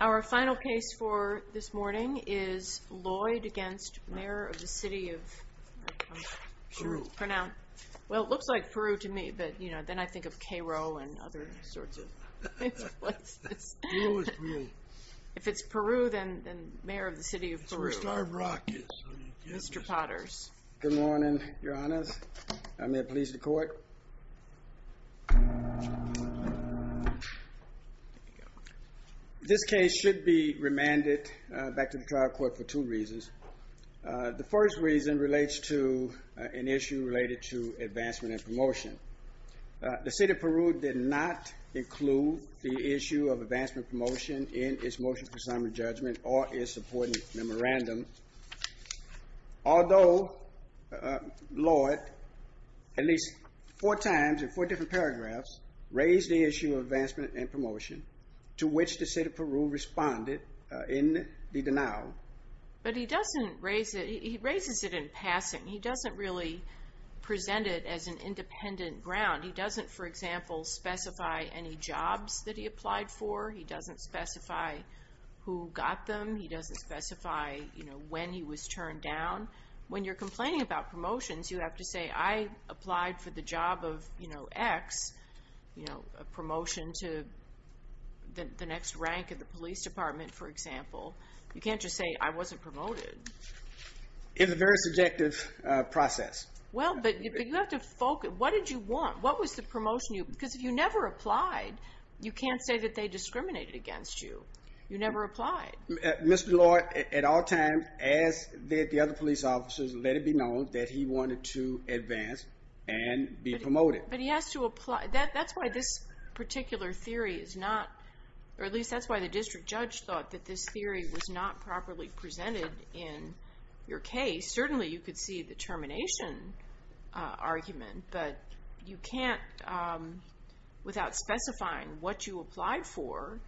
Our final case for this morning is Lloyd v. Mayor of the City of Peru. Well, it looks like Peru to me, but then I think of Cairo and other sorts of places. If it's Peru, then Mayor of the City of Peru, Mr. Potters. Good morning, your honors. May it please the court. This case should be remanded back to the trial court for two reasons. The first reason relates to an issue related to advancement and promotion. The City of Peru did not include the issue of advancement promotion in its motion for summary judgment or its supporting memorandum. Although Lloyd, at least four times in four different paragraphs, raised the issue of advancement and promotion, to which the City of Peru responded in the denial. But he doesn't raise it. He raises it in passing. He doesn't really present it as an independent ground. He doesn't, for example, specify any jobs that he applied for. He doesn't specify who got them. He doesn't specify, you know, when he was turned down. When you're complaining about promotions, you have to say, I applied for the job of, you know, X. You know, a promotion to the next rank of the police department, for example. You can't just say I wasn't promoted. It's a very subjective process. Well, but you have to focus. What did you want? What was the promotion? Because if you never applied, you can't say that they discriminated against you. You never applied. Mr. Lloyd, at all times, as did the other police officers, let it be known that he wanted to advance and be promoted. But he has to apply. That's why this particular theory is not, or at least that's why the district judge thought that this theory was not properly presented in your case. Certainly you could see the termination argument, but you can't, without specifying what you applied for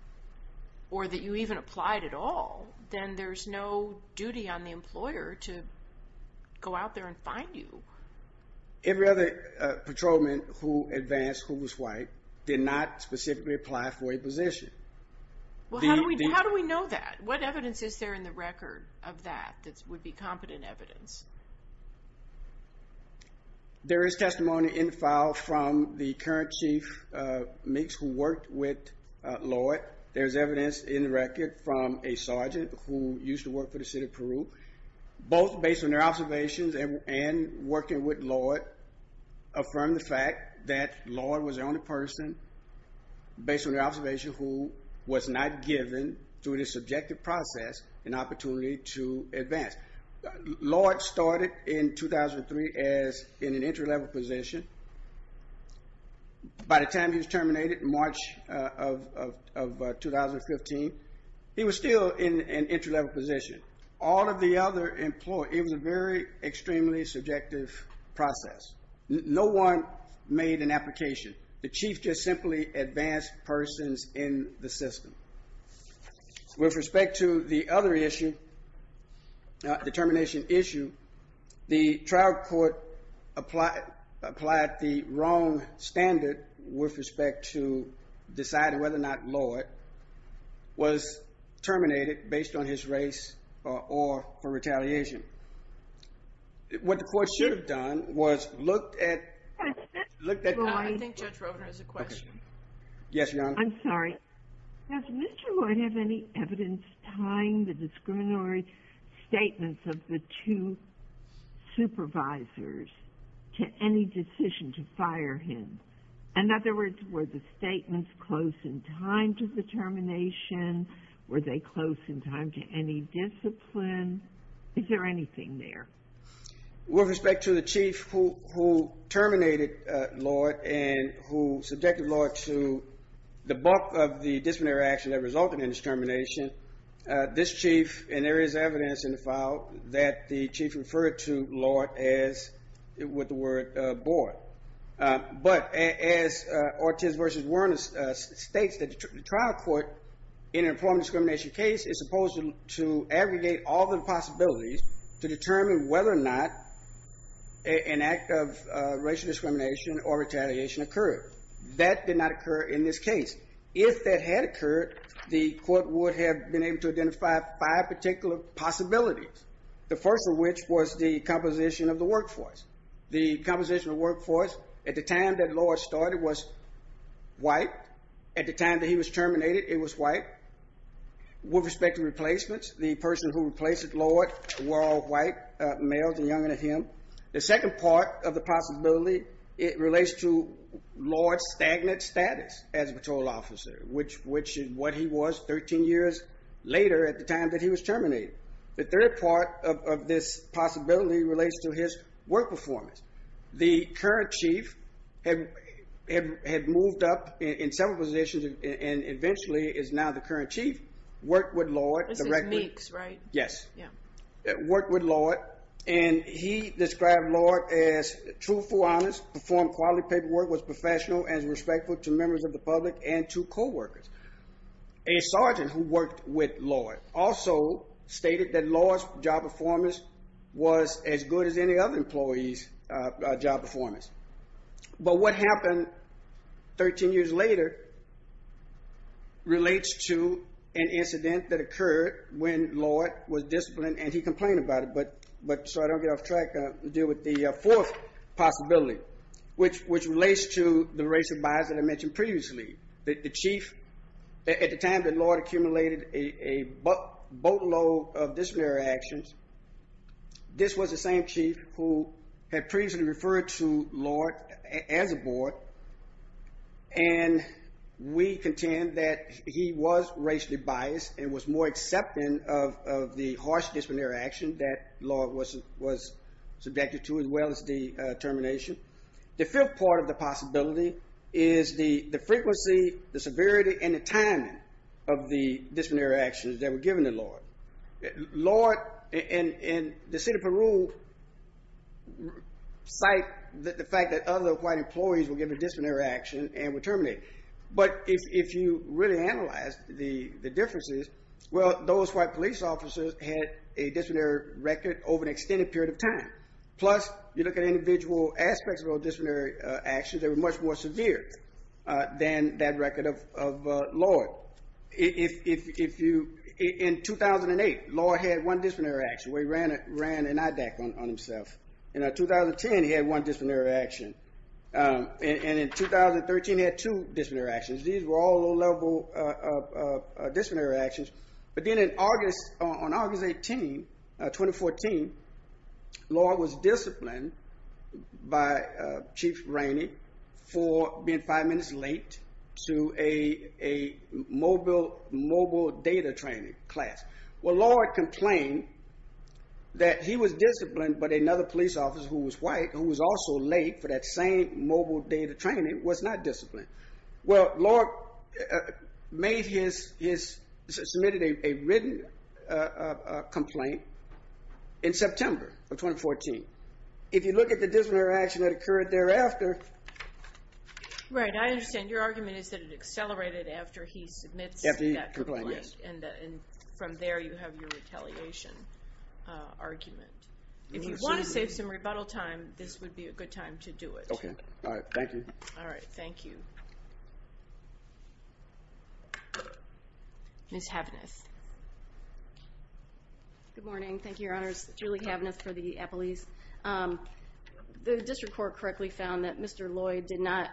or that you even applied at all, then there's no duty on the employer to go out there and find you. Every other patrolman who advanced who was white did not specifically apply for a position. Well, how do we know that? What evidence is there in the record of that that would be competent evidence? There is testimony in the file from the current chief, Meeks, who worked with Lloyd. There's evidence in the record from a sergeant who used to work for the city of Peru. Lloyd affirmed the fact that Lloyd was the only person, based on the observation, who was not given, through the subjective process, an opportunity to advance. Lloyd started in 2003 as in an entry-level position. By the time he was terminated in March of 2015, he was still in an entry-level position. All of the other employees, it was a very extremely subjective process. No one made an application. The chief just simply advanced persons in the system. With respect to the other issue, the termination issue, the trial court applied the wrong standard with respect to deciding whether or not Lloyd was terminated based on his race or for retaliation. What the court should have done was looked at... I think Judge Rovner has a question. Yes, Your Honor. I'm sorry. Does Mr. Lloyd have any evidence tying the discriminatory statements of the two supervisors to any decision to fire him? In other words, were the statements close in time to the termination? Were they close in time to any discipline? Is there anything there? With respect to the chief who terminated Lloyd and who subjected Lloyd to the bulk of the disciplinary action that resulted in his termination, this chief, and there is evidence in the file that the chief referred to Lloyd as, with the word, but as Ortiz v. Werner states, the trial court in an employment discrimination case is supposed to aggregate all the possibilities to determine whether or not an act of racial discrimination or retaliation occurred. That did not occur in this case. If that had occurred, the court would have been able to identify five particular possibilities, the first of which was the composition of the workforce. The composition of the workforce at the time that Lloyd started was white. At the time that he was terminated, it was white. With respect to replacements, the person who replaced Lloyd were all white males and younger than him. The second part of the possibility, it relates to Lloyd's stagnant status as a patrol officer, which is what he was 13 years later at the time that he was terminated. The third part of this possibility relates to his work performance. The current chief had moved up in several positions and eventually is now the current chief, worked with Lloyd directly. This is Meeks, right? Yes. Worked with Lloyd, and he described Lloyd as truthful, honest, performed quality paperwork, was professional and respectful to members of the public and to coworkers. A sergeant who worked with Lloyd also stated that Lloyd's job performance was as good as any other employee's job performance. But what happened 13 years later relates to an incident that occurred when Lloyd was disciplined and he complained about it. But so I don't get off track, I'll deal with the fourth possibility, which relates to the race of bias that I mentioned previously. The chief, at the time that Lloyd accumulated a boatload of disciplinary actions, this was the same chief who had previously referred to Lloyd as a boy, and we contend that he was racially biased and was more accepting of the harsh disciplinary action that Lloyd was subjected to as well as the termination. The fifth part of the possibility is the frequency, the severity, and the timing of the disciplinary actions that were given to Lloyd. Lloyd and the city of Peru cite the fact that other white employees were given disciplinary action and were terminated. But if you really analyze the differences, well, those white police officers had a disciplinary record over an extended period of time. Plus, you look at individual aspects of disciplinary actions, they were much more severe than that record of Lloyd. In 2008, Lloyd had one disciplinary action where he ran an IDAC on himself. In 2010, he had one disciplinary action. And in 2013, he had two disciplinary actions. These were all low-level disciplinary actions. But then on August 18, 2014, Lloyd was disciplined by Chief Rainey for being five minutes late to a mobile data training class. Well, Lloyd complained that he was disciplined, but another police officer who was white, who was also late for that same mobile data training, was not disciplined. Well, Lloyd submitted a written complaint in September of 2014. If you look at the disciplinary action that occurred thereafter... Right, I understand. Your argument is that it accelerated after he submits that complaint. And from there, you have your retaliation argument. If you want to save some rebuttal time, this would be a good time to do it. Okay. All right. Thank you. Ms. Havnas. Good morning. Thank you, Your Honors. Julie Havnas for the Apple East. The district court correctly found that Mr. Lloyd did not,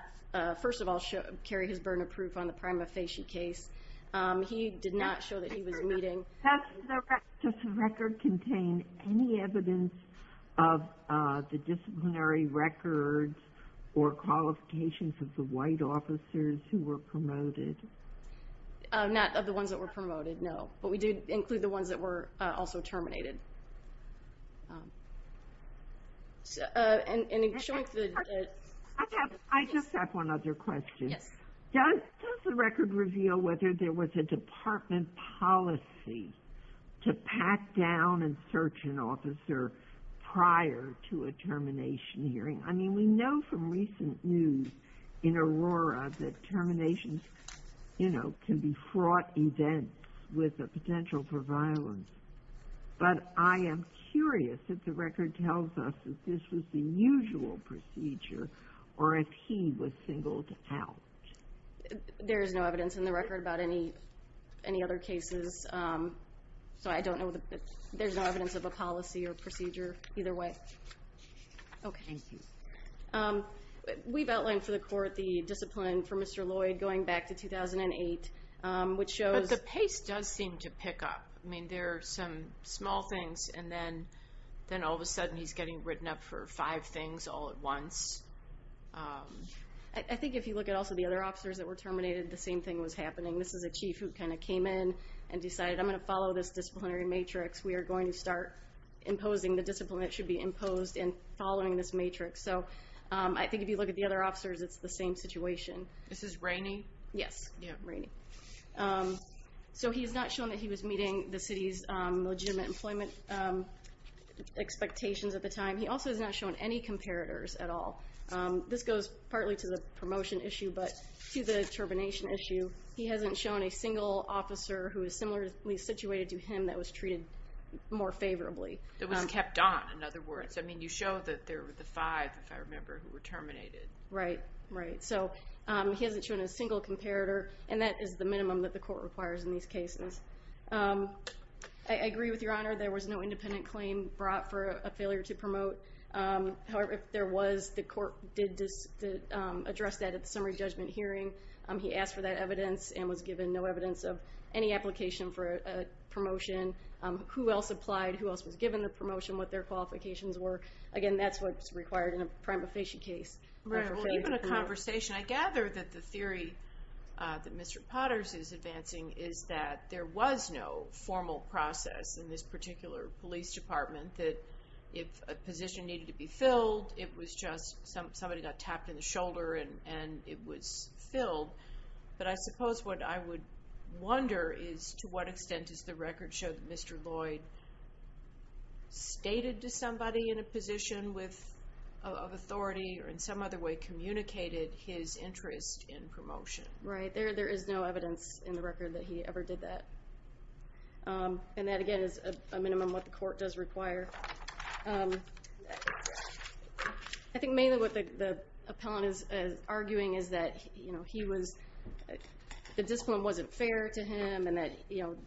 first of all, carry his burden of proof on the prima facie case. He did not show that he was meeting... Does the record contain any evidence of the disciplinary records or qualifications of the white officers who were promoted? Not of the ones that were promoted, no. But we do include the ones that were also terminated. I just have one other question. Yes. Does the record reveal whether there was a department policy to pat down and search an officer prior to a termination hearing? I mean, we know from recent news in Aurora that terminations, you know, can be fraught events with the potential for violence. But I am curious if the record tells us that this was the usual procedure or if he was singled out. There is no evidence in the record about any other cases. So I don't know that there's no evidence of a policy or procedure either way. Okay. We've outlined for the court the discipline for Mr. Lloyd going back to 2008, which shows... But the pace does seem to pick up. I mean, there are some small things, and then all of a sudden he's getting written up for five things all at once. I think if you look at also the other officers that were terminated, the same thing was happening. This is a chief who kind of came in and decided, I'm going to follow this disciplinary matrix. We are going to start imposing the discipline that should be imposed and following this matrix. So I think if you look at the other officers, it's the same situation. This is Rainey? Yes, Rainey. So he has not shown that he was meeting the city's legitimate employment expectations at the time. He also has not shown any comparators at all. This goes partly to the promotion issue, but to the termination issue, he hasn't shown a single officer who is similarly situated to him and that was treated more favorably. It was kept on, in other words. I mean, you show that there were the five, if I remember, who were terminated. Right, right. So he hasn't shown a single comparator, and that is the minimum that the court requires in these cases. I agree with Your Honor, there was no independent claim brought for a failure to promote. However, if there was, the court did address that at the summary judgment hearing. He asked for that evidence and was given no evidence of any application for a promotion. Who else applied? Who else was given the promotion? What their qualifications were? Again, that's what's required in a prima facie case. Even a conversation. I gather that the theory that Mr. Potters is advancing is that there was no formal process in this particular police department that if a position needed to be filled, it was just somebody got tapped in the shoulder and it was filled. But I suppose what I would wonder is to what extent does the record show that Mr. Lloyd stated to somebody in a position of authority or in some other way communicated his interest in promotion. Right. There is no evidence in the record that he ever did that. And that, again, is a minimum what the court does require. I think mainly what the appellant is arguing is that the discipline wasn't fair to him and that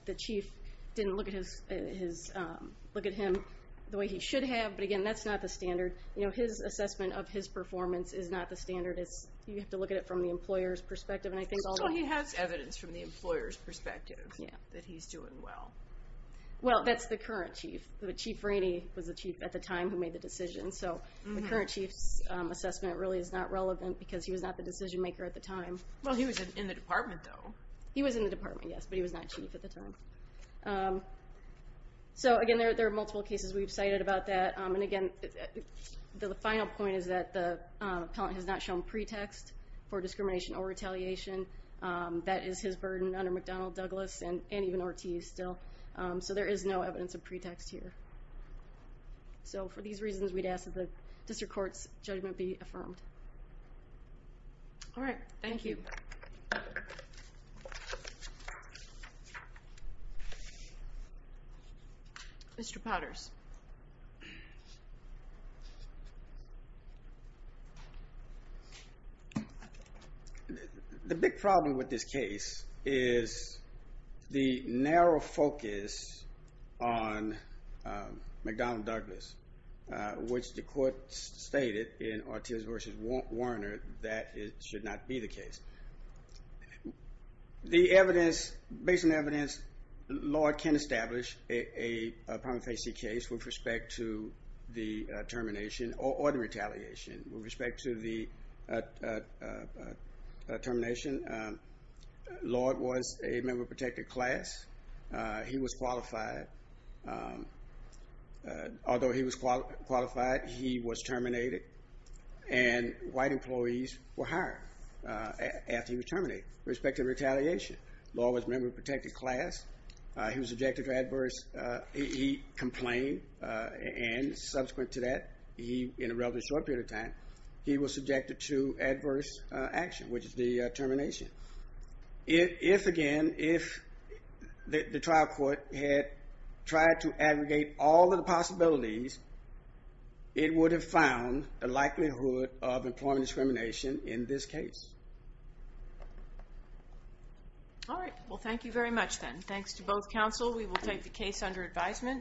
the chief didn't look at him the way he should have. But, again, that's not the standard. His assessment of his performance is not the standard. You have to look at it from the employer's perspective. He has evidence from the employer's perspective that he's doing well. Well, that's the current chief. Chief Rainey was the chief at the time who made the decision. The current chief's assessment really is not relevant because he was not the decision-maker at the time. Well, he was in the department, though. He was in the department, yes, but he was not chief at the time. So, again, there are multiple cases we've cited about that. And, again, the final point is that the appellant has not shown pretext for discrimination or retaliation. That is his burden under McDonnell, Douglas, and even Ortiz still. So there is no evidence of pretext here. So, for these reasons, we'd ask that the district court's judgment be affirmed. All right. Thank you. Mr. Potters. The big problem with this case is the narrow focus on McDonnell, Douglas, which the court stated in Ortiz v. Warner that it should not be the case. The evidence, based on the evidence, Lord can establish a prima facie case with respect to the termination or the retaliation. With respect to the termination, Lord was a member of a protected class. He was qualified. Although he was qualified, he was terminated, and white employees were hired after he was terminated. With respect to retaliation, Lord was a member of a protected class. He was subjected to adverse... He complained, and subsequent to that, in a relatively short period of time, he was subjected to adverse action, which is the termination. If, again, if the trial court had tried to aggregate all of the possibilities, it would have found the likelihood of employment discrimination in this case. All right. Well, thank you very much, then. Thanks to both counsel. We will take the case under advisement.